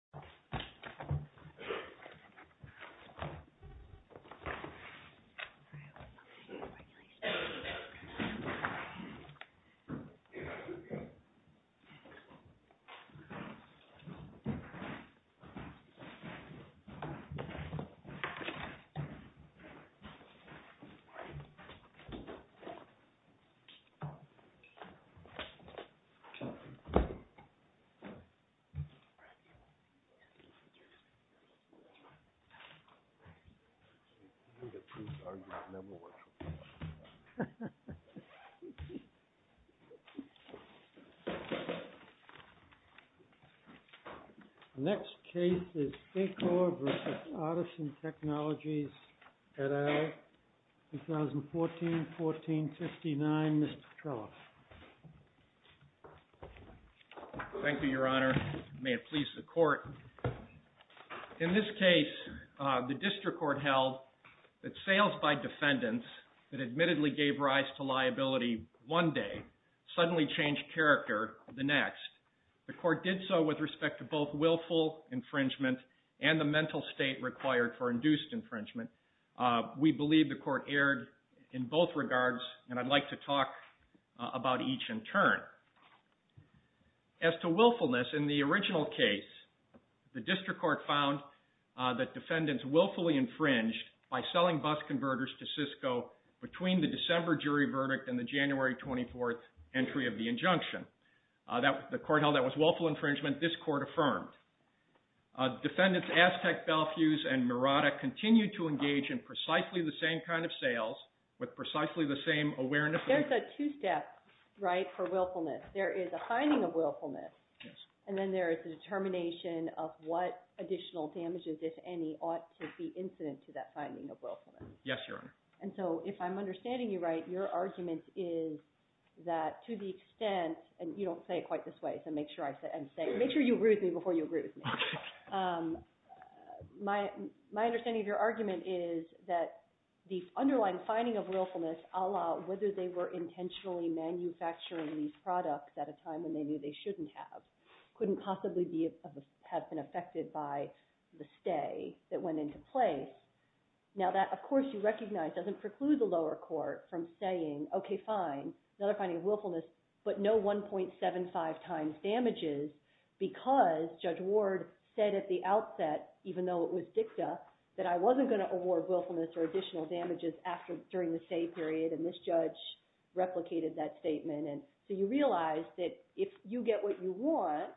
All right. We're done with the regulations. All right. All right. All right. All right. Thank you, Your Honor. May it please the court. In this case, the district court held that sales by defendants that admittedly gave rise to liability one day suddenly changed character the next. The court did so with respect to both willful infringement and the mental state required for induced infringement. We believe the court erred in both regards, and I'd like to talk about each in turn. As to willfulness, in the original case, the district court found that defendants willfully infringed by selling bus converters to Cisco between the December jury verdict and the January 24th entry of the injunction. The court held that was willful infringement. This court affirmed. Defendants Aztec, Belfuse, and Mirada continued to engage in precisely the same kind of sales with precisely the same awareness. There's a two-step right for willfulness. There is a finding of willfulness, and then there is a determination of what additional damages, if any, ought to be incident to that finding of willfulness. Yes, Your Honor. And so if I'm understanding you right, your argument is that to the extent – and you don't say it quite this way, so make sure you agree with me before you agree with me. My understanding of your argument is that the underlying finding of willfulness, a la question about whether they were intentionally manufacturing these products at a time when they knew they shouldn't have, couldn't possibly have been affected by the stay that went into place. Now, that, of course, you recognize doesn't preclude the lower court from saying, okay, fine, another finding of willfulness, but no 1.75 times damages because Judge Ward said at the outset, even though it was dicta, that I wasn't going to award willfulness or additional damages during the stay period, and this judge replicated that statement, and so you realize that if you get what you want,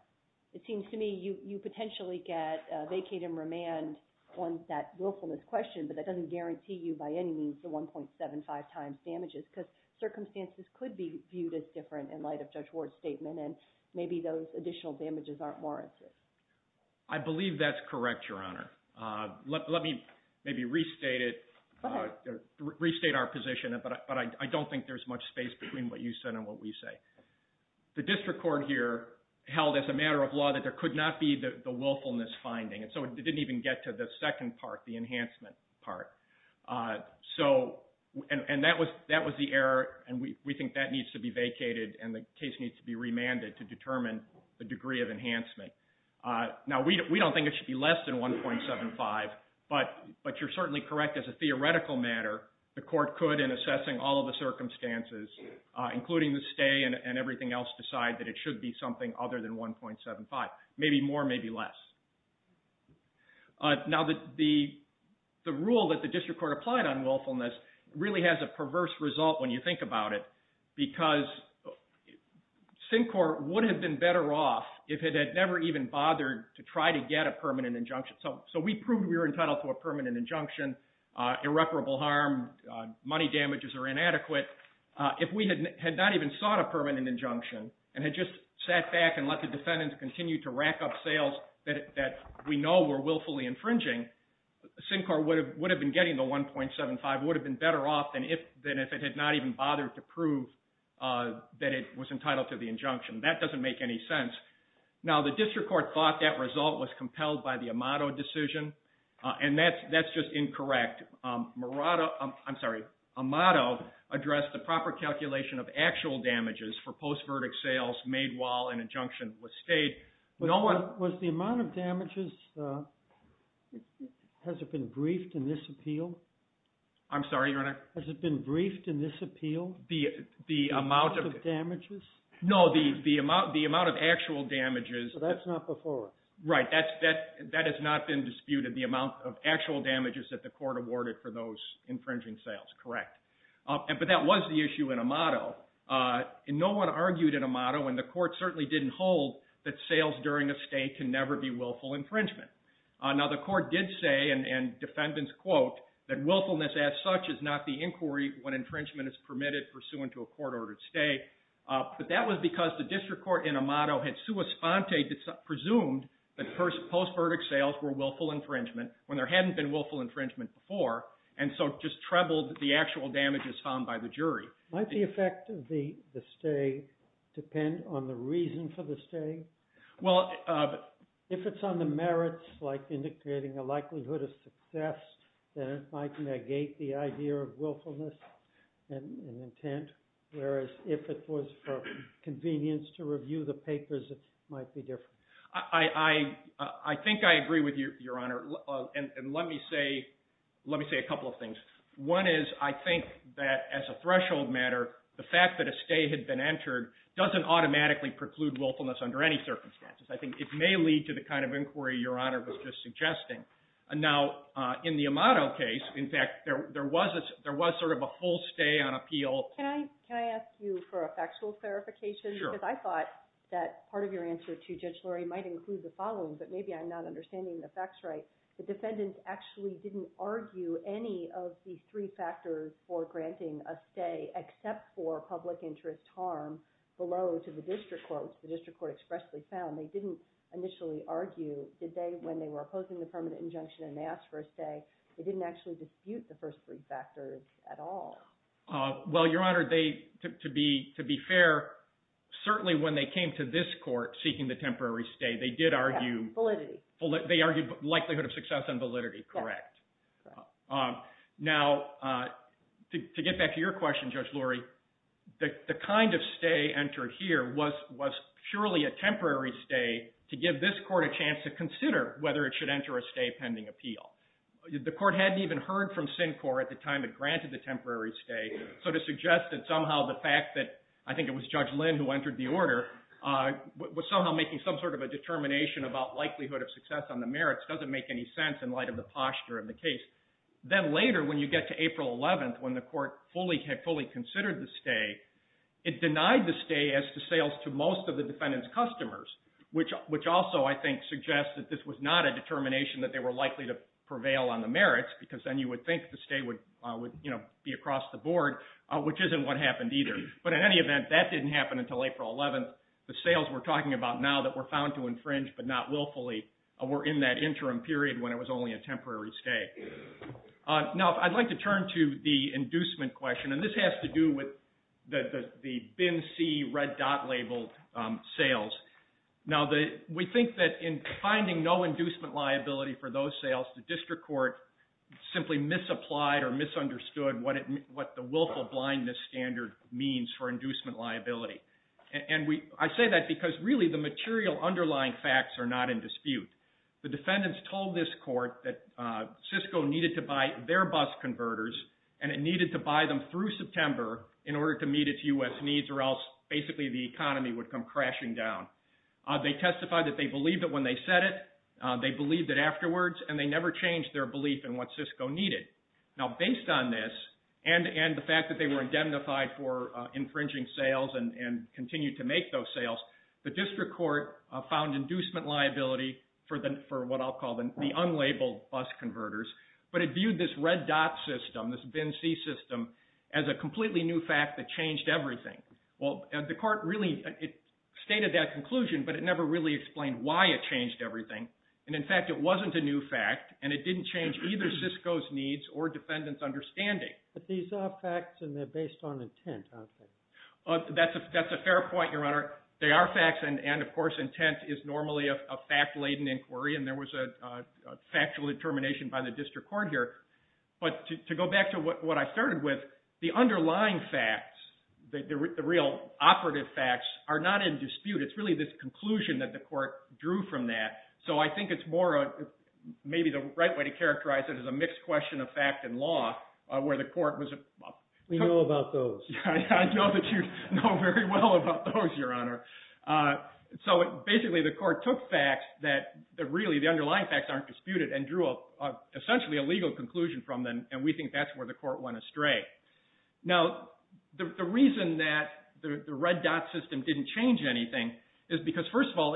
it seems to me you potentially get vacate and remand on that willfulness question, but that doesn't guarantee you by any means the 1.75 times damages because circumstances could be viewed as different in light of Judge Ward's statement, and maybe those additional damages aren't warranted. I believe that's correct, Your Honor. Let me maybe restate it, restate our position, but I don't think there's much space between what you said and what we say. The district court here held as a matter of law that there could not be the willfulness finding, and so it didn't even get to the second part, the enhancement part, and that was the error, and we think that needs to be vacated, and the case needs to be remanded to determine the degree of enhancement. Now, we don't think it should be less than 1.75, but you're certainly correct as a theoretical matter, the court could, in assessing all of the circumstances, including the stay and everything else, decide that it should be something other than 1.75, maybe more, maybe less. Now, the rule that the district court applied on willfulness really has a perverse result when you think about it, because Syncor would have been better off if it had never even bothered to try to get a permanent injunction. So we proved we were entitled to a permanent injunction, irreparable harm, money damages are inadequate. If we had not even sought a permanent injunction and had just sat back and let the defendants continue to rack up sales that we know were willfully infringing, Syncor would have been getting the 1.75, would have been better off than if it had not even bothered to prove that it was entitled to the injunction. That doesn't make any sense. Now, the district court thought that result was compelled by the Amato decision, and that's just incorrect. I'm sorry, Amato addressed the proper calculation of actual damages for post-verdict sales made while an injunction was stayed. Was the amount of damages, has it been briefed in this appeal? I'm sorry, Your Honor? Has it been briefed in this appeal? The amount of damages? No, the amount of actual damages. That's not before us. Right, that has not been disputed, the amount of actual damages that the court awarded for those infringing sales, correct. But that was the issue in Amato, and no one argued in Amato, and the court certainly didn't hold that sales during a stay can never be willful infringement. Now, the court did say, and defendants quote, that willfulness as such is not the inquiry when infringement is permitted pursuant to a court-ordered stay. But that was because the district court in Amato had sua sponte presumed that post-verdict sales were willful infringement when there hadn't been willful infringement before, and Might the effect of the stay depend on the reason for the stay? Well, if it's on the merits, like indicating a likelihood of success, then it might negate the idea of willfulness and intent, whereas if it was for convenience to review the papers, it might be different. I think I agree with you, Your Honor, and let me say a couple of things. One is I think that as a threshold matter, the fact that a stay had been entered doesn't automatically preclude willfulness under any circumstances. I think it may lead to the kind of inquiry Your Honor was just suggesting. Now, in the Amato case, in fact, there was sort of a whole stay on appeal. Can I ask you for a factual clarification? Sure. Because I thought that part of your answer to Judge Lurie might include the following, but maybe I'm not understanding the facts right. The defendants actually didn't argue any of the three factors for granting a stay except for public interest harm below to the district courts. The district court expressly found they didn't initially argue when they were opposing the permanent injunction and they asked for a stay, they didn't actually dispute the first three factors at all. Well, Your Honor, to be fair, certainly when they came to this court seeking the temporary stay, they did argue… Validity. They argued likelihood of success and validity, correct. Correct. Now, to get back to your question, Judge Lurie, the kind of stay entered here was purely a temporary stay to give this court a chance to consider whether it should enter a stay pending appeal. The court hadn't even heard from Syncor at the time it granted the temporary stay, so to suggest that somehow the fact that, I think it was Judge Lynn who entered the order, was somehow making some sort of a determination about likelihood of success on the merits doesn't make any sense in light of the posture of the case. Then later, when you get to April 11th, when the court fully considered the stay, it denied the stay as to sales to most of the defendant's customers, which also, I think, suggests that this was not a determination that they were likely to prevail on the merits because then you would think the stay would be across the board, which isn't what happened either. But in any event, that didn't happen until April 11th. The sales we're talking about now that were found to infringe but not willfully were in that interim period when it was only a temporary stay. Now, I'd like to turn to the inducement question, and this has to do with the BIN-C red dot labeled sales. Now, we think that in finding no inducement liability for those sales, the district court simply misapplied or misunderstood what the willful blindness standard means for inducement liability. I say that because, really, the material underlying facts are not in dispute. The defendants told this court that Cisco needed to buy their bus converters, and it needed to buy them through September in order to meet its U.S. needs or else, basically, the economy would come crashing down. They testified that they believed it when they said it, they believed it afterwards, and they never changed their belief in what Cisco needed. Now, based on this and the fact that they were indemnified for infringing sales and continued to make those sales, the district court found inducement liability for what I'll call the unlabeled bus converters, but it viewed this red dot system, this BIN-C system, as a completely new fact that changed everything. Well, the court really stated that conclusion, but it never really explained why it changed everything. In fact, it wasn't a new fact, and it didn't change either Cisco's needs or defendants' understanding. But these are facts, and they're based on intent, aren't they? That's a fair point, Your Honor. They are facts, and of course, intent is normally a fact-laden inquiry, and there was a factual determination by the district court here. But to go back to what I started with, the underlying facts, the real operative facts, are not in dispute. It's really this conclusion that the court drew from that. So I think it's more maybe the right way to characterize it as a mixed question of fact and law, where the court was... We know about those. I know that you know very well about those, Your Honor. So basically, the court took facts that really, the underlying facts aren't disputed, and drew essentially a legal conclusion from them, and we think that's where the court went astray. Now, the reason that the red dot system didn't change anything is because, first of all,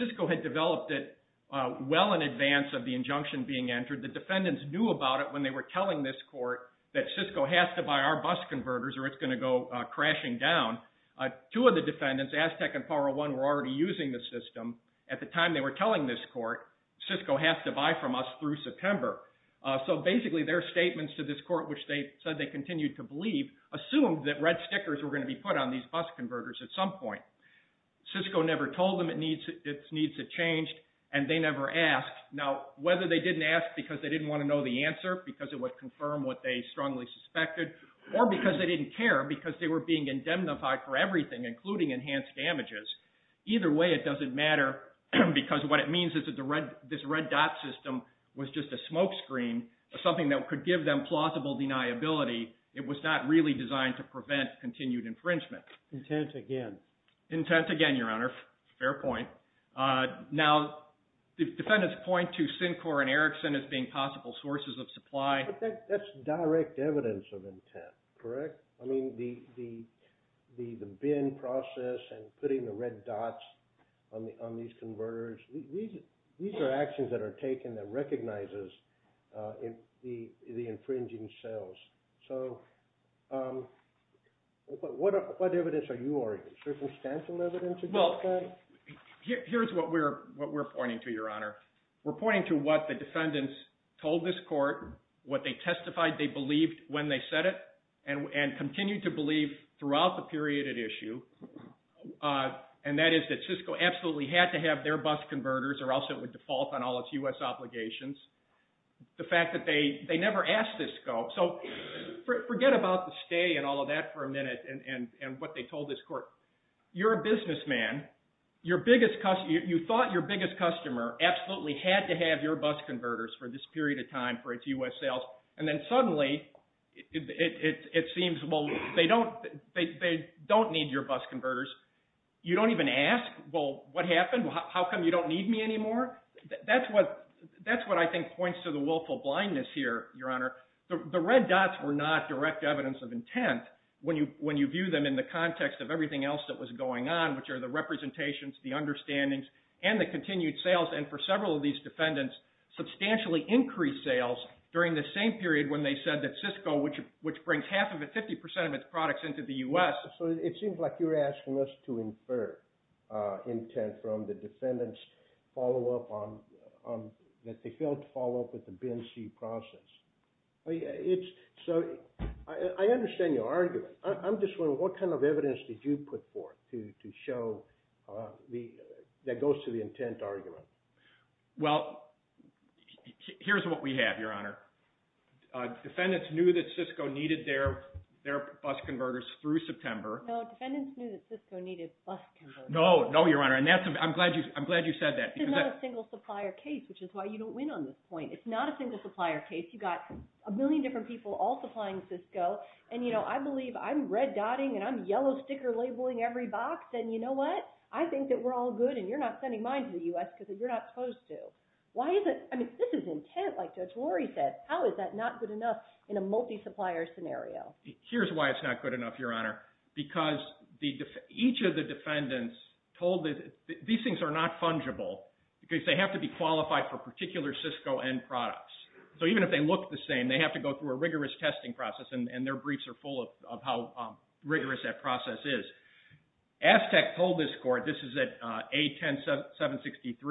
Cisco had developed it well in advance of the injunction being entered. The defendants knew about it when they were telling this court that Cisco has to buy our bus converters or it's going to go crashing down. Two of the defendants, Aztec and Power One, were already using the system. At the time they were telling this court, Cisco has to buy from us through September. So basically, their statements to this court, which they said they continued to believe, assumed that red stickers were going to be put on these bus converters at some point. Cisco never told them its needs had changed, and they never asked. Now, whether they didn't ask because they didn't want to know the answer, because it would confirm what they strongly suspected, or because they didn't care, because they were being indemnified for everything, including enhanced damages. Either way, it doesn't matter, because what it means is that this red dot system was just a smokescreen, something that could give them plausible deniability. It was not really designed to prevent continued infringement. Intent again. Intent again, Your Honor. Fair point. Now, the defendants point to Syncor and Ericsson as being possible sources of supply. That's direct evidence of intent, correct? I mean, the bin process and putting the red dots on these converters, these are actions that are taken that recognizes the infringing sales. So what evidence are you arguing? Circumstantial evidence? Well, here's what we're pointing to, Your Honor. We're pointing to what the defendants told this court, what they testified they believed when they said it, and continue to believe throughout the period at issue, and that is that Cisco absolutely had to have their bus converters or else it would default on all its U.S. obligations. The fact that they never asked Cisco. So forget about the stay and all of that for a minute and what they told this court. You're a businessman. You thought your biggest customer absolutely had to have your bus converters for this period of time for its U.S. sales, and then suddenly it seems, well, they don't need your bus converters. You don't even ask, well, what happened? How come you don't need me anymore? That's what I think points to the willful blindness here, Your Honor. The red dots were not direct evidence of intent when you view them in the context of everything else that was going on, which are the representations, the understandings, and the continued sales. And for several of these defendants, substantially increased sales during the same period when they said that Cisco, which brings half of it, 50 percent of its products into the U.S. So it seems like you were asking us to infer intent from the defendants' follow-up on that they failed to follow up with the BNC process. So I understand your argument. I'm just wondering what kind of evidence did you put forth to show that goes to the intent argument? Well, here's what we have, Your Honor. Defendants knew that Cisco needed their bus converters through September. No, defendants knew that Cisco needed bus converters. No, no, Your Honor. And I'm glad you said that. This is not a single supplier case, which is why you don't win on this point. It's not a single supplier case. You've got a million different people all supplying Cisco. And I believe I'm red dotting and I'm yellow sticker labeling every box. And you know what? I think that we're all good and you're not sending mine to the U.S. because you're not supposed to. I mean, this is intent, like Judge Lori said. How is that not good enough in a multi-supplier scenario? Here's why it's not good enough, Your Honor. Because each of the defendants told that these things are not fungible because they have to be qualified for particular Cisco end products. So even if they look the same, they have to go through a rigorous testing process, and their briefs are full of how rigorous that process is. ASTEC told this court, this is at A-10-763,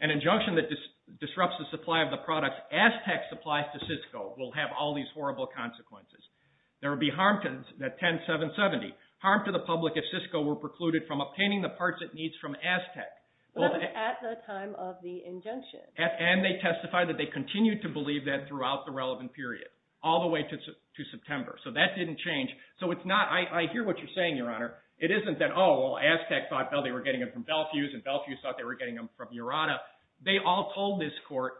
an injunction that disrupts the supply of the products ASTEC supplies to Cisco will have all these horrible consequences. There will be harm to the 10-770. Harm to the public if Cisco were precluded from obtaining the parts it needs from ASTEC. That was at the time of the injunction. And they testified that they continued to believe that throughout the relevant period, all the way to September. So that didn't change. So it's not, I hear what you're saying, Your Honor. It isn't that, oh, well, ASTEC thought they were getting them from Belfuse, and Belfuse thought they were getting them from Urata. They all told this court,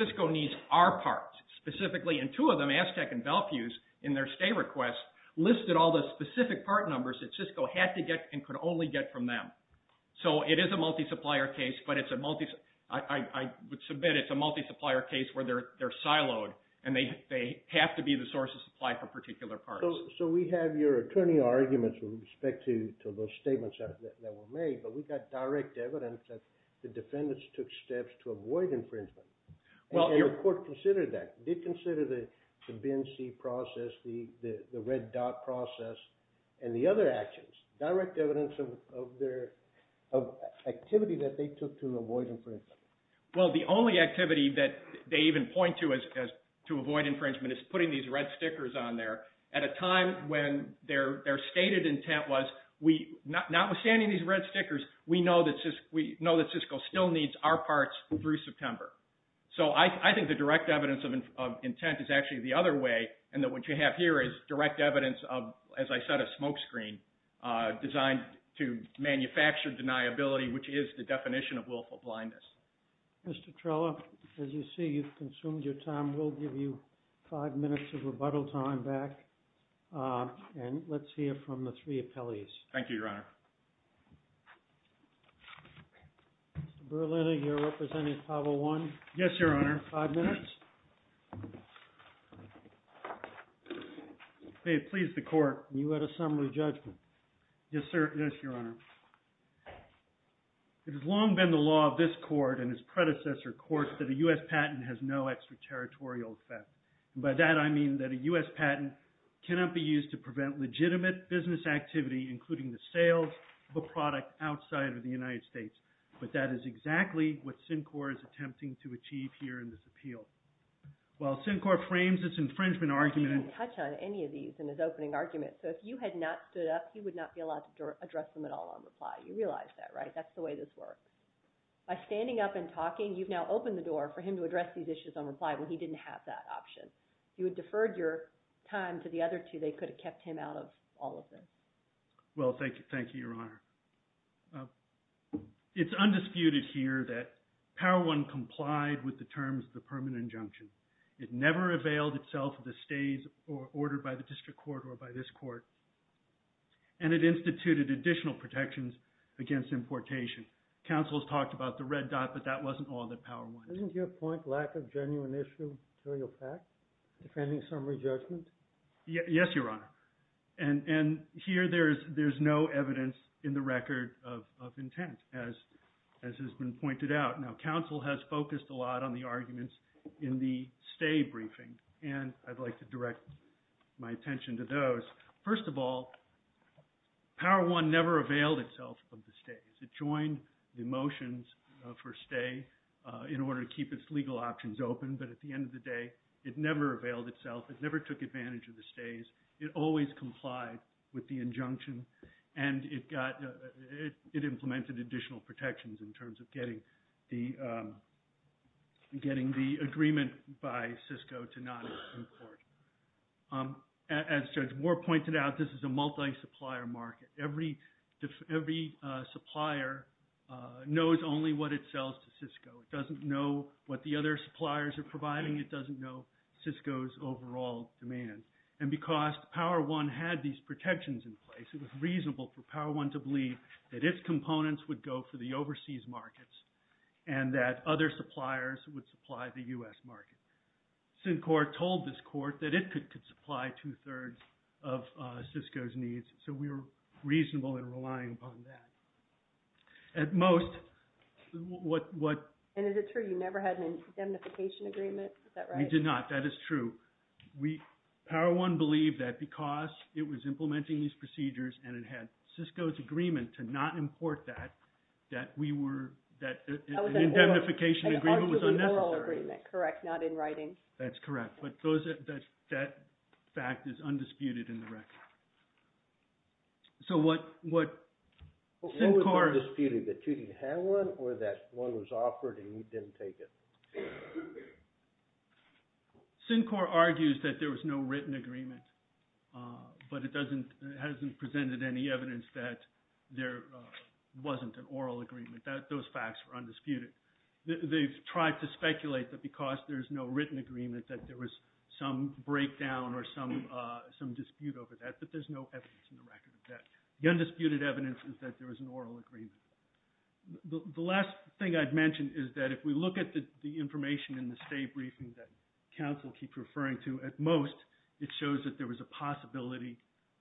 Cisco needs our parts, specifically. And two of them, ASTEC and Belfuse, in their stay request, listed all the specific part numbers that Cisco had to get and could only get from them. So it is a multi-supplier case, but it's a multi, I would submit it's a multi-supplier case where they're siloed, and they have to be the source of supply for particular parts. So we have your attorney arguments with respect to those statements that were made, but we've got direct evidence that the defendants took steps to avoid infringement. And the court considered that, did consider the BNC process, the red dot process, and the other actions. Direct evidence of their activity that they took to avoid infringement. Well, the only activity that they even point to as to avoid infringement is putting these red stickers on there at a time when their stated intent was notwithstanding these red stickers, we know that Cisco still needs our parts through September. So I think the direct evidence of intent is actually the other way, and that what you have here is direct evidence of, as I said, a smoke screen designed to manufacture deniability, which is the definition of willful blindness. Mr. Trella, as you see, you've consumed your time. We'll give you five minutes of rebuttal time back, and let's hear from the three appellees. Thank you, Your Honor. Mr. Berliner, you're representing Apollo 1. Yes, Your Honor. Five minutes. May it please the court. You had a summary judgment. Yes, Your Honor. It has long been the law of this court and its predecessor courts that a U.S. patent has no extraterritorial effect. And by that, I mean that a U.S. patent cannot be used to prevent legitimate business activity, including the sales of a product outside of the United States. But that is exactly what CINCOR is attempting to achieve here in this appeal. While CINCOR frames its infringement argument in – address them at all on reply. You realize that, right? That's the way this works. By standing up and talking, you've now opened the door for him to address these issues on reply when he didn't have that option. If you had deferred your time to the other two, they could have kept him out of all of this. Well, thank you, Your Honor. It's undisputed here that Power I complied with the terms of the permanent injunction. It never availed itself of the stays ordered by the district court or by this court. And it instituted additional protections against importation. Counsel has talked about the red dot, but that wasn't all that Power I did. Doesn't your point lack a genuine issue, material fact, defending summary judgment? Yes, Your Honor. And here, there's no evidence in the record of intent, as has been pointed out. Now, counsel has focused a lot on the arguments in the stay briefing, and I'd like to direct my attention to those. First of all, Power I never availed itself of the stays. It joined the motions for stay in order to keep its legal options open, but at the end of the day, it never availed itself. It never took advantage of the stays. It always complied with the injunction, and it implemented additional protections in terms of getting the agreement by Cisco to not import. As Judge Moore pointed out, this is a multi-supplier market. Every supplier knows only what it sells to Cisco. It doesn't know what the other suppliers are providing. It doesn't know Cisco's overall demand. And because Power I had these protections in place, it was reasonable for Power I to believe that its components would go for the overseas markets and that other suppliers would supply the U.S. market. Syncor told this court that it could supply two-thirds of Cisco's needs, so we were reasonable in relying upon that. At most, what... And is it true you never had an indemnification agreement? Is that right? We did not. That is true. Power I believed that because it was implementing these procedures and it had Cisco's agreement to not import that, that we were... An indemnification agreement was unnecessary. Correct, not in writing. That's correct, but that fact is undisputed in the record. So what... Undisputed, that you didn't have one or that one was offered and you didn't take it? Syncor argues that there was no written agreement, but it hasn't presented any evidence that there wasn't an oral agreement. Those facts are undisputed. They've tried to speculate that because there's no written agreement that there was some breakdown or some dispute over that, but there's no evidence in the record of that. The undisputed evidence is that there was an oral agreement. The last thing I'd mention is that if we look at the information in the state briefing that counsel keeps referring to, at most, it shows that there was a possibility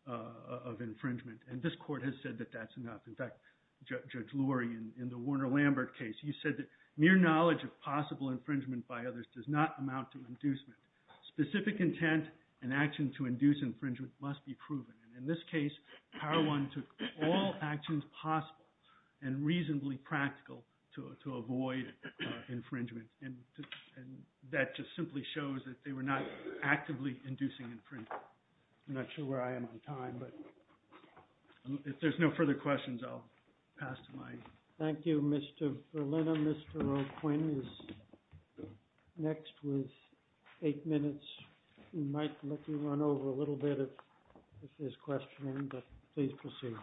of infringement, and this court has said that that's enough. In fact, Judge Lurie, in the Warner-Lambert case, you said that mere knowledge of possible infringement by others does not amount to inducement. Specific intent and action to induce infringement must be proven. In this case, Power One took all actions possible and reasonably practical to avoid infringement, and that just simply shows that they were not actively inducing infringement. I'm not sure where I am on time, but if there's no further questions, I'll pass the mic. Thank you, Mr. Verlina. Mr. Roquin is next with eight minutes. We might let you run over a little bit of his questioning, but please proceed.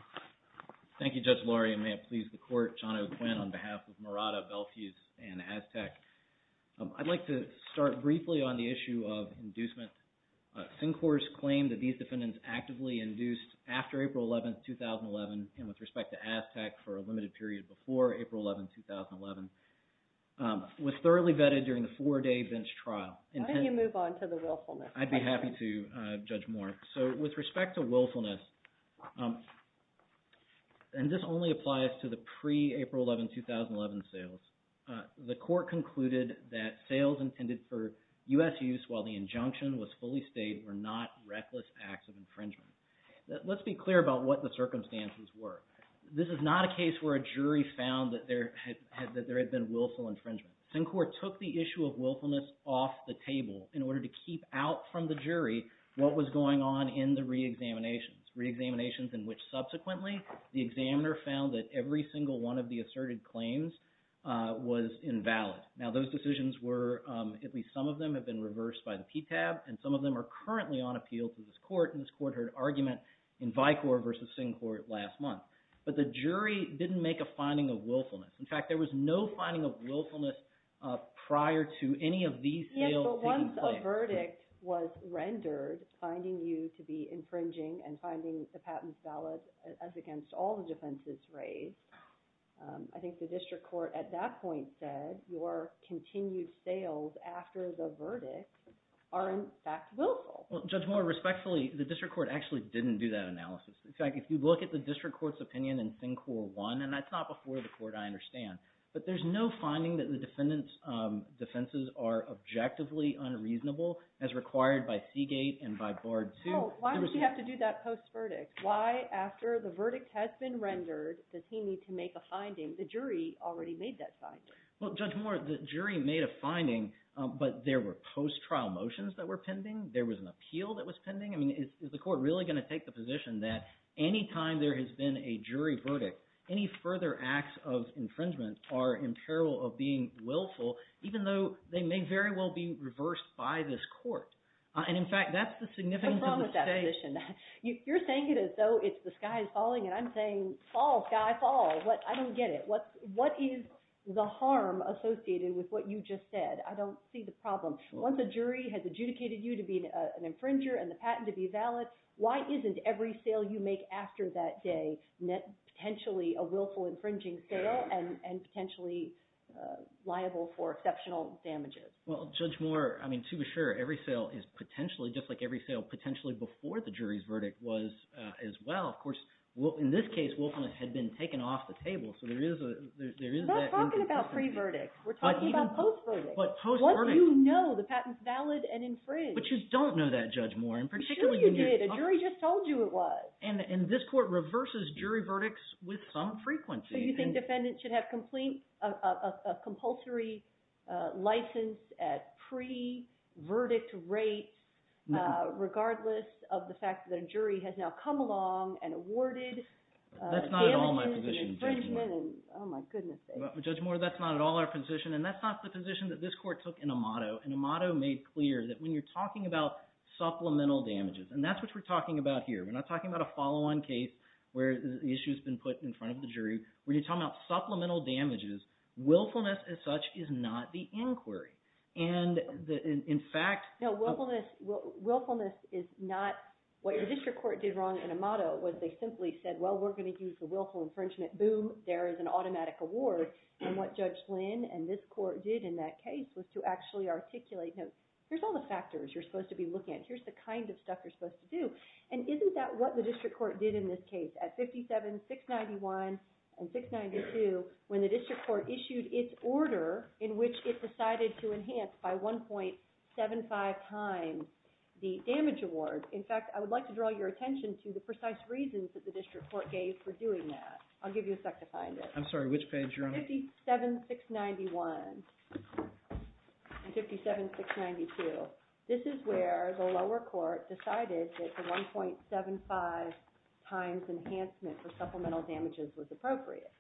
Thank you, Judge Lurie, and may it please the Court, John O'Quinn on behalf of Murata, Belfuse, and Aztec. I'd like to start briefly on the issue of inducement. Sincor's claim that these defendants actively induced after April 11, 2011, and with respect to Aztec for a limited period before April 11, 2011, was thoroughly vetted during the four-day bench trial. Why don't you move on to the willfulness? I'd be happy to judge more. With respect to willfulness, and this only applies to the pre-April 11, 2011, sales, the Court concluded that sales intended for U.S. use while the injunction was fully stayed were not reckless acts of infringement. Let's be clear about what the circumstances were. This is not a case where a jury found that there had been willful infringement. Sincor took the issue of willfulness off the table in order to keep out from the jury what was going on in the re-examinations, re-examinations in which subsequently the examiner found that every single one of the asserted claims was invalid. Now, those decisions were – at least some of them have been reversed by the PTAB, and some of them are currently on appeal to this Court, and this Court heard argument in Vicor v. Sincor last month. But the jury didn't make a finding of willfulness. In fact, there was no finding of willfulness prior to any of these sales taking place. Yes, but once a verdict was rendered, finding you to be infringing and finding the patents valid as against all the defenses raised, I think the district court at that point said your continued sales after the verdict are in fact willful. Well, Judge Moore, respectfully, the district court actually didn't do that analysis. In fact, if you look at the district court's opinion in Sincor 1 – and that's not before the Court, I understand – but there's no finding that the defendant's defenses are objectively unreasonable as required by Seagate and by Bard 2. Well, why did she have to do that post-verdict? Why, after the verdict has been rendered, does he need to make a finding? The jury already made that finding. Well, Judge Moore, the jury made a finding, but there were post-trial motions that were pending. There was an appeal that was pending. I mean is the court really going to take the position that any time there has been a jury verdict, any further acts of infringement are in peril of being willful even though they may very well be reversed by this court? And in fact, that's the significance of the state. What's wrong with that position? You're saying it as though it's the sky is falling, and I'm saying fall, sky, fall. I don't get it. What is the harm associated with what you just said? I don't see the problem. Once a jury has adjudicated you to be an infringer and the patent to be valid, why isn't every sale you make after that day potentially a willful infringing sale and potentially liable for exceptional damages? Well, Judge Moore, I mean to be sure, every sale is potentially, just like every sale potentially before the jury's verdict was as well. Of course, in this case, Wolf and I had been taken off the table, so there is that inconsistency. We're not talking about pre-verdict. We're talking about post-verdict. But post-verdict. What do you know? The patent's valid and infringed. But you don't know that, Judge Moore. I'm pretty sure you did. A jury just told you it was. And this court reverses jury verdicts with some frequency. So you think defendants should have a compulsory license at pre-verdict rates regardless of the fact that a jury has now come along and awarded damages and infringement and oh my goodness sake. Judge Moore, that's not at all our position, and that's not the position that this court took in Amato. And Amato made clear that when you're talking about supplemental damages, and that's what we're talking about here. We're not talking about a follow-on case where the issue's been put in front of the jury. When you're talking about supplemental damages, willfulness as such is not the inquiry. And in fact – No, willfulness is not – what your district court did wrong in Amato was they simply said, well, we're going to use the willful infringement. Boom, there is an automatic award. And what Judge Flynn and this court did in that case was to actually articulate, no, here's all the factors you're supposed to be looking at. Here's the kind of stuff you're supposed to do. And isn't that what the district court did in this case at 57-691 and 692 when the district court issued its order in which it decided to enhance by 1.75 times the damage award? In fact, I would like to draw your attention to the precise reasons that the district court gave for doing that. I'll give you a sec to find it. I'm sorry, which page you're on? 57-691 and 57-692. This is where the lower court decided that the 1.75 times enhancement for supplemental damages was appropriate.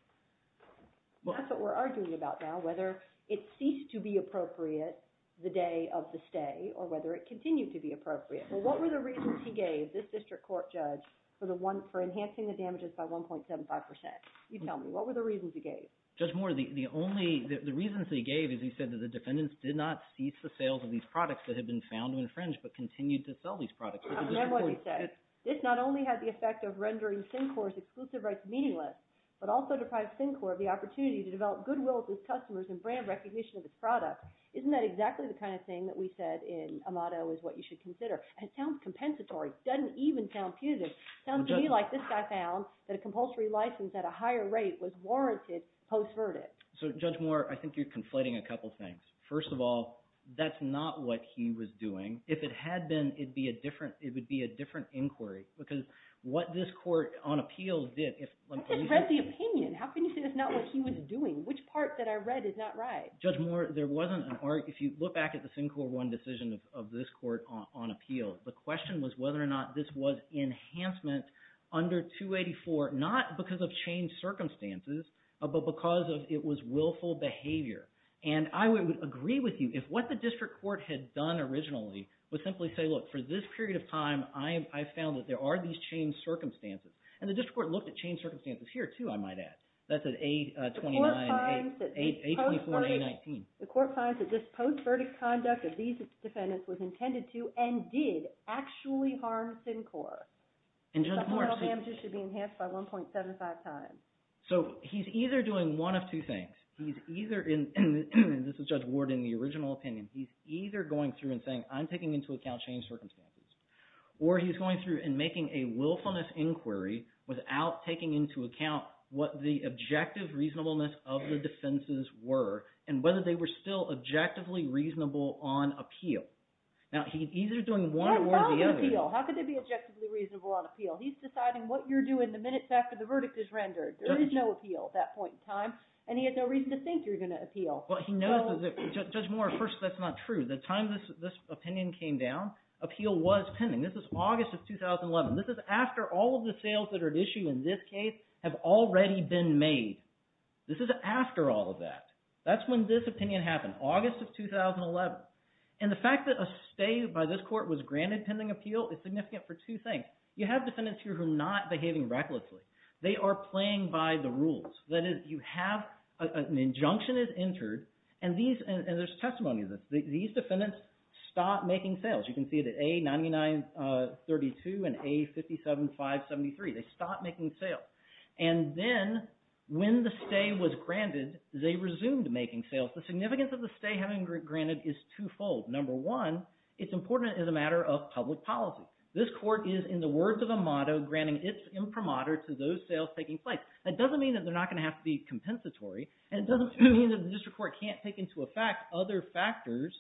That's what we're arguing about now, whether it ceased to be appropriate the day of the stay or whether it continued to be appropriate. But what were the reasons he gave this district court judge for enhancing the damages by 1.75 percent? You tell me. What were the reasons he gave? Judge Moore, the only – the reasons that he gave is he said that the defendants did not cease the sales of these products that had been found to infringe but continued to sell these products. I remember what he said. This not only had the effect of rendering Syncor's exclusive rights meaningless but also deprived Syncor of the opportunity to develop goodwill with its customers and brand recognition of its products. Isn't that exactly the kind of thing that we said in Amato is what you should consider? It sounds compensatory. It doesn't even sound punitive. It sounds to me like this guy found that a compulsory license at a higher rate was warranted post-verdict. So Judge Moore, I think you're conflating a couple things. First of all, that's not what he was doing. If it had been, it would be a different inquiry because what this court on appeals did – I just read the opinion. How can you say that's not what he was doing? Which part that I read is not right? Judge Moore, there wasn't an – or if you look back at the Syncor 1 decision of this court on appeals, the question was whether or not this was enhancement under 284 not because of changed circumstances but because it was willful behavior. And I would agree with you if what the district court had done originally was simply say, look, for this period of time, I found that there are these changed circumstances. And the district court looked at changed circumstances here too, I might add. That's at A29 – A24 and A19. The court finds that this post-verdict conduct of these defendants was intended to and did actually harm Syncor. And Judge Moore – But moral damages should be enhanced by 1.75 times. So he's either doing one of two things. He's either – and this is Judge Ward in the original opinion. He's either going through and saying I'm taking into account changed circumstances, or he's going through and making a willfulness inquiry without taking into account what the objective reasonableness of the defenses were and whether they were still objectively reasonable on appeal. Now, he's either doing one or the other. How about appeal? How could they be objectively reasonable on appeal? He's deciding what you're doing the minutes after the verdict is rendered. There is no appeal at that point in time, and he had no reason to think you're going to appeal. Well, he knows that – Judge Moore, first, that's not true. The time this opinion came down, appeal was pending. This is August of 2011. This is after all of the sales that are at issue in this case have already been made. This is after all of that. That's when this opinion happened, August of 2011. And the fact that a stay by this court was granted pending appeal is significant for two things. You have defendants here who are not behaving recklessly. They are playing by the rules. That is, you have – an injunction is entered, and these – and there's testimony of this. These defendants stopped making sales. You can see it at A9932 and A57573. They stopped making sales. And then when the stay was granted, they resumed making sales. The significance of the stay having been granted is twofold. Number one, it's important as a matter of public policy. This court is, in the words of Amato, granting its imprimatur to those sales taking place. That doesn't mean that they're not going to have to be compensatory, and it doesn't mean that the district court can't take into effect other factors,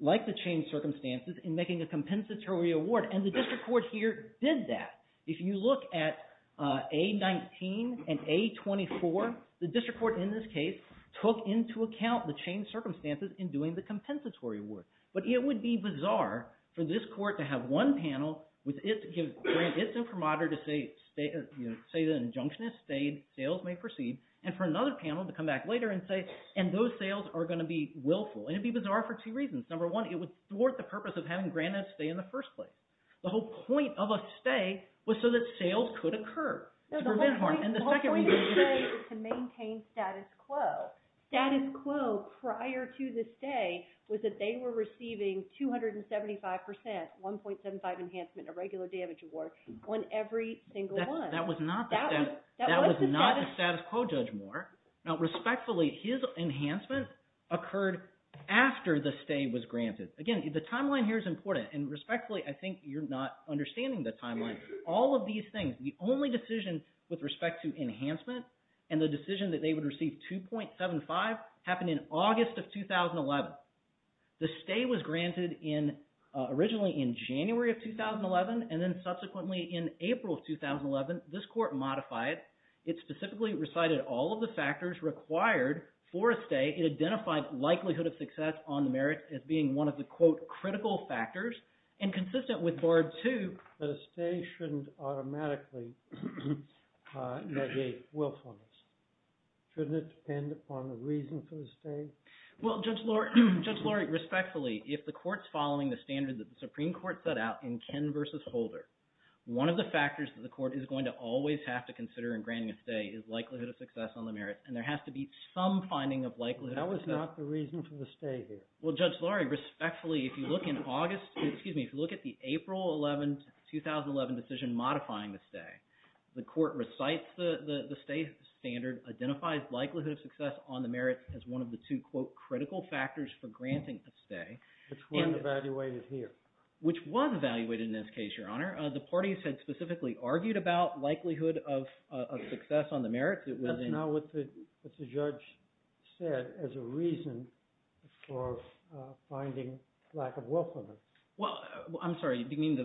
like the changed circumstances, in making a compensatory award. And the district court here did that. If you look at A19 and A24, the district court in this case took into account the changed circumstances in doing the compensatory award. But it would be bizarre for this court to have one panel with its imprimatur to say the injunction has stayed, sales may proceed, and for another panel to come back later and say, and those sales are going to be willful. And it would be bizarre for two reasons. Number one, it would thwart the purpose of having granted a stay in the first place. The whole point of a stay was so that sales could occur to prevent harm. The whole point of a stay is to maintain status quo. Status quo prior to the stay was that they were receiving 275% 1.75 enhancement, a regular damage award, on every single one. That was not the status quo, Judge Moore. Now, respectfully, his enhancement occurred after the stay was granted. Again, the timeline here is important. And respectfully, I think you're not understanding the timeline. All of these things, the only decision with respect to enhancement and the decision that they would receive 2.75 happened in August of 2011. The stay was granted originally in January of 2011 and then subsequently in April of 2011. This court modified it. It specifically recited all of the factors required for a stay. It identified likelihood of success on the merits as being one of the, quote, critical factors and consistent with Barred 2. But a stay shouldn't automatically negate willfulness. Shouldn't it depend upon the reason for the stay? Well, Judge Laurie, respectfully, if the court's following the standard that the Supreme Court set out in Ken v. Holder, one of the factors that the court is going to always have to consider in granting a stay is likelihood of success on the merits. And there has to be some finding of likelihood of success. That was not the reason for the stay here. Well, Judge Laurie, respectfully, if you look in August – excuse me, if you look at the April 11, 2011 decision modifying the stay, the court recites the stay standard, identifies likelihood of success on the merits as one of the two, quote, critical factors for granting a stay. Which weren't evaluated here. Which was evaluated in this case, Your Honor. The parties had specifically argued about likelihood of success on the merits. That's not what the judge said as a reason for finding lack of willfulness. Well, I'm sorry. You mean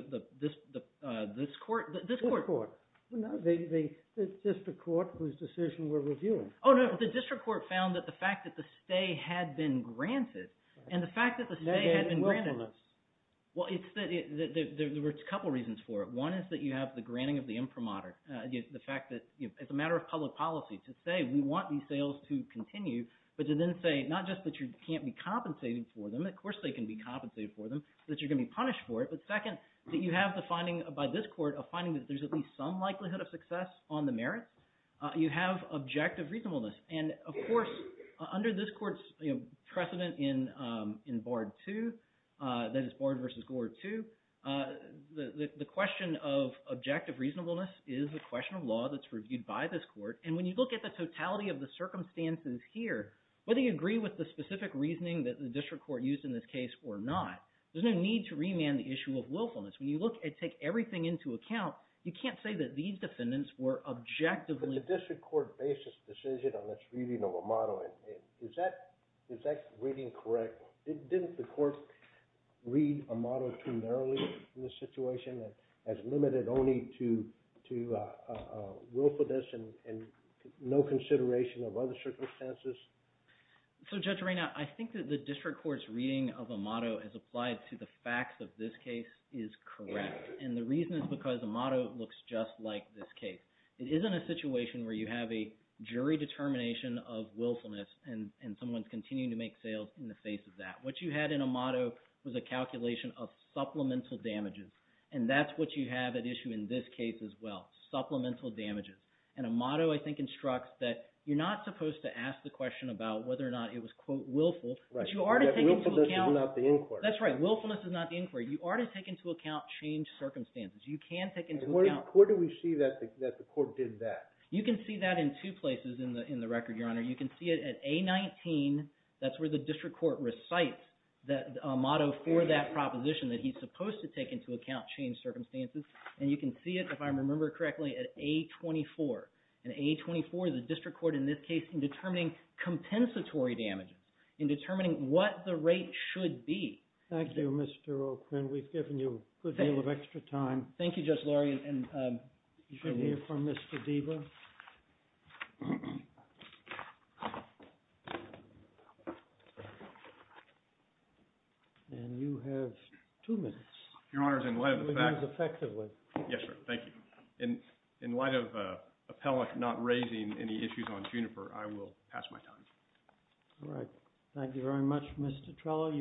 this court? This court. No, the district court whose decision we're reviewing. Oh, no. The district court found that the fact that the stay had been granted and the fact that the stay had been granted. They had willfulness. Well, there were a couple reasons for it. One is that you have the granting of the imprimatur, the fact that it's a matter of public policy to say we want these sales to continue, but to then say not just that you can't be compensated for them. Of course they can be compensated for them, that you're going to be punished for it. But second, that you have the finding by this court of finding that there's at least some likelihood of success on the merits. You have objective reasonableness. And, of course, under this court's precedent in Bard II, that is Bard v. Gore II, the question of objective reasonableness is a question of law that's reviewed by this court. And when you look at the totality of the circumstances here, whether you agree with the specific reasoning that the district court used in this case or not, there's no need to remand the issue of willfulness. When you look and take everything into account, you can't say that these defendants were objectively – But the district court based its decision on its reading of Amato. Is that reading correct? Didn't the court read Amato too narrowly in this situation as limited only to willfulness and no consideration of other circumstances? So, Judge Reina, I think that the district court's reading of Amato as applied to the facts of this case is correct. And the reason is because Amato looks just like this case. It isn't a situation where you have a jury determination of willfulness, and someone's continuing to make sales in the face of that. What you had in Amato was a calculation of supplemental damages, and that's what you have at issue in this case as well, supplemental damages. And Amato, I think, instructs that you're not supposed to ask the question about whether or not it was, quote, willful. But you are to take into account – Right, but willfulness is not the inquiry. That's right. Willfulness is not the inquiry. You are to take into account changed circumstances. You can take into account – Where do we see that the court did that? You can see that in two places in the record, Your Honor. You can see it at A19. That's where the district court recites Amato for that proposition that he's supposed to take into account changed circumstances. And you can see it, if I remember correctly, at A24. And A24, the district court in this case, in determining compensatory damages, in determining what the rate should be. Thank you, Mr. O'Quinn. We've given you a good deal of extra time. Thank you, Justice Lurie. And you can hear from Mr. Deba. And you have two minutes. Your Honor, in light of the fact – Two minutes effectively. Yes, sir. Thank you. In light of Appellant not raising any issues on Juniper, I will pass my time. All right. Thank you very much, Mr. Trello.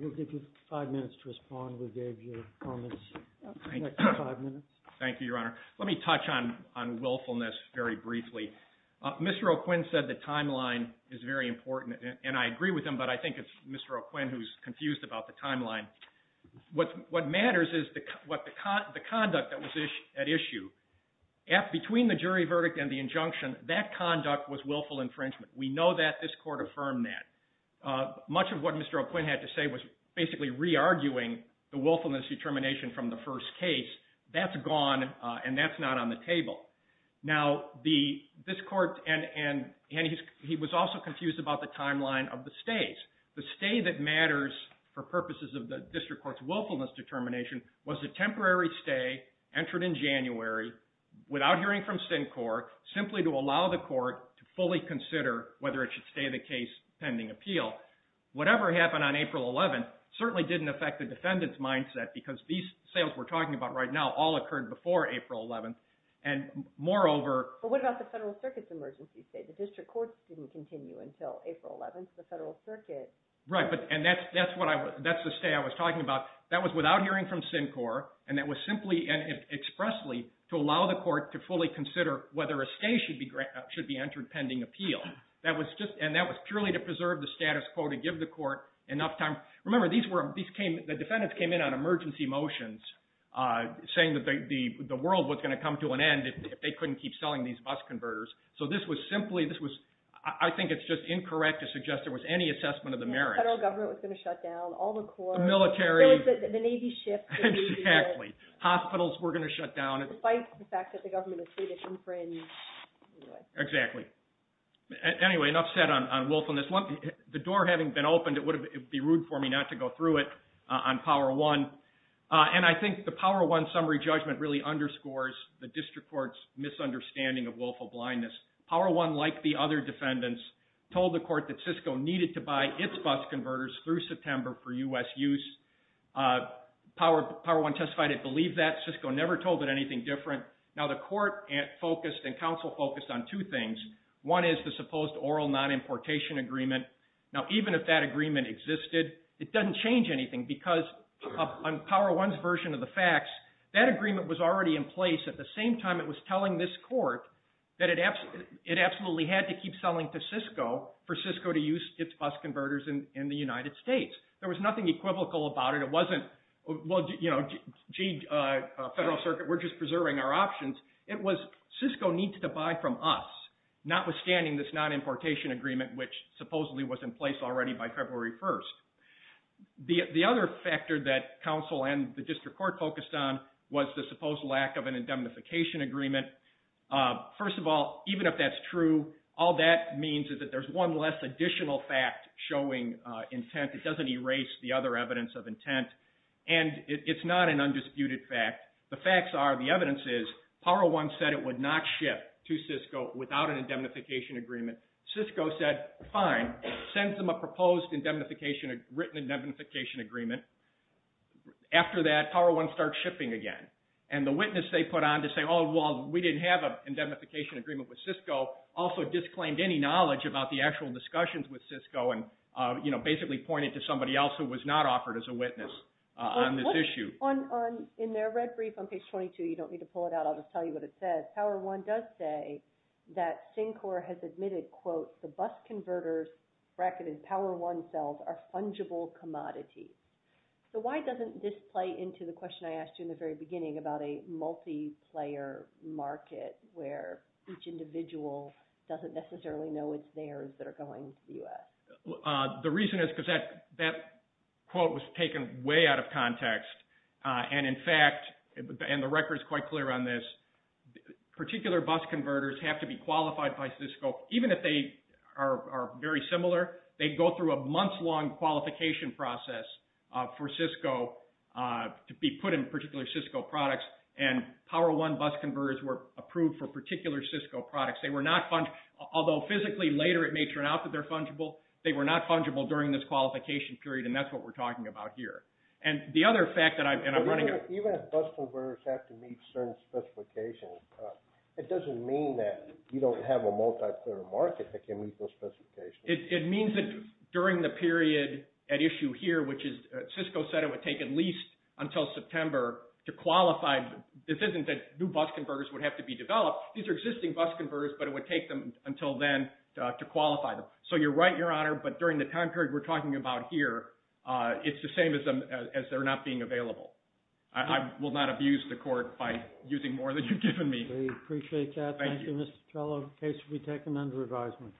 We'll give you five minutes to respond. Thank you, Your Honor. Let me touch on willfulness very briefly. Mr. O'Quinn said the timeline is very important, and I agree with him, but I think it's Mr. O'Quinn who's confused about the timeline. What matters is the conduct that was at issue. Between the jury verdict and the injunction, that conduct was willful infringement. We know that. This Court affirmed that. Much of what Mr. O'Quinn had to say was basically re-arguing the willfulness determination from the first case. That's gone, and that's not on the table. Now, this Court – and he was also confused about the timeline of the stays. The stay that matters for purposes of the District Court's willfulness determination was a temporary stay entered in January without hearing from Syncor, simply to allow the Court to fully consider whether it should stay the case pending appeal. Whatever happened on April 11th certainly didn't affect the defendant's mindset because these sales we're talking about right now all occurred before April 11th, and moreover – But what about the Federal Circuit's emergency stay? The District Court didn't continue until April 11th. Right, and that's the stay I was talking about. That was without hearing from Syncor, and that was simply and expressly to allow the Court to fully consider whether a stay should be entered pending appeal. And that was purely to preserve the status quo, to give the Court enough time. Remember, the defendants came in on emergency motions, saying that the world was going to come to an end if they couldn't keep selling these bus converters. So this was simply – I think it's just incorrect to suggest there was any assessment of the merits. The Federal Government was going to shut down all the courts. The military. The Navy shift. Exactly. Hospitals were going to shut down. Despite the fact that the government was free to infringe. Exactly. Anyway, enough said on willfulness. The door having been opened, it would be rude for me not to go through it on Power One. And I think the Power One summary judgment really underscores the District Court's misunderstanding of willful blindness. Power One, like the other defendants, told the Court that Cisco needed to buy its bus converters through September for U.S. use. Power One testified it believed that. Cisco never told it anything different. Now the Court focused and counsel focused on two things. One is the supposed oral non-importation agreement. Now even if that agreement existed, it doesn't change anything because on Power One's version of the facts, that agreement was already in place at the same time it was telling this court that it absolutely had to keep selling to Cisco for Cisco to use its bus converters in the United States. There was nothing equivocal about it. It wasn't, you know, gee, Federal Circuit, we're just preserving our options. It was Cisco needs to buy from us, notwithstanding this non-importation agreement, which supposedly was in place already by February 1st. The other factor that counsel and the District Court focused on was the supposed lack of an indemnification agreement. First of all, even if that's true, all that means is that there's one less additional fact showing intent. It doesn't erase the other evidence of intent. And it's not an undisputed fact. The facts are, the evidence is, Power One said it would not ship to Cisco without an indemnification agreement. Cisco said, fine, send them a proposed written indemnification agreement. After that, Power One starts shipping again. And the witness they put on to say, oh, well, we didn't have an indemnification agreement with Cisco, also disclaimed any knowledge about the actual discussions with Cisco and, you know, basically pointed to somebody else who was not offered as a witness on this issue. In their red brief on page 22, you don't need to pull it out. I'll just tell you what it says. Power One does say that Syncor has admitted, quote, the bus converters bracketed Power One cells are fungible commodities. So why doesn't this play into the question I asked you in the very beginning about a multiplayer market where each individual doesn't necessarily know it's theirs that are going to the U.S.? The reason is because that quote was taken way out of context. And, in fact, and the record is quite clear on this, particular bus converters have to be qualified by Cisco even if they are very similar. They go through a month-long qualification process for Cisco to be put in particular Cisco products. And Power One bus converters were approved for particular Cisco products. Although physically later it may turn out that they're fungible, they were not fungible during this qualification period, and that's what we're talking about here. And the other fact that I'm running out of time. Even if bus converters have to meet certain specifications, it doesn't mean that you don't have a multiplayer market that can meet those specifications. It means that during the period at issue here, which is, Cisco said it would take at least until September to qualify. This isn't that new bus converters would have to be developed. These are existing bus converters, but it would take them until then to qualify them. So you're right, Your Honor, but during the time period we're talking about here, it's the same as they're not being available. I will not abuse the court by using more than you've given me. We appreciate that. Thank you. Thank you, Mr. Patello. The case will be taken under advisement.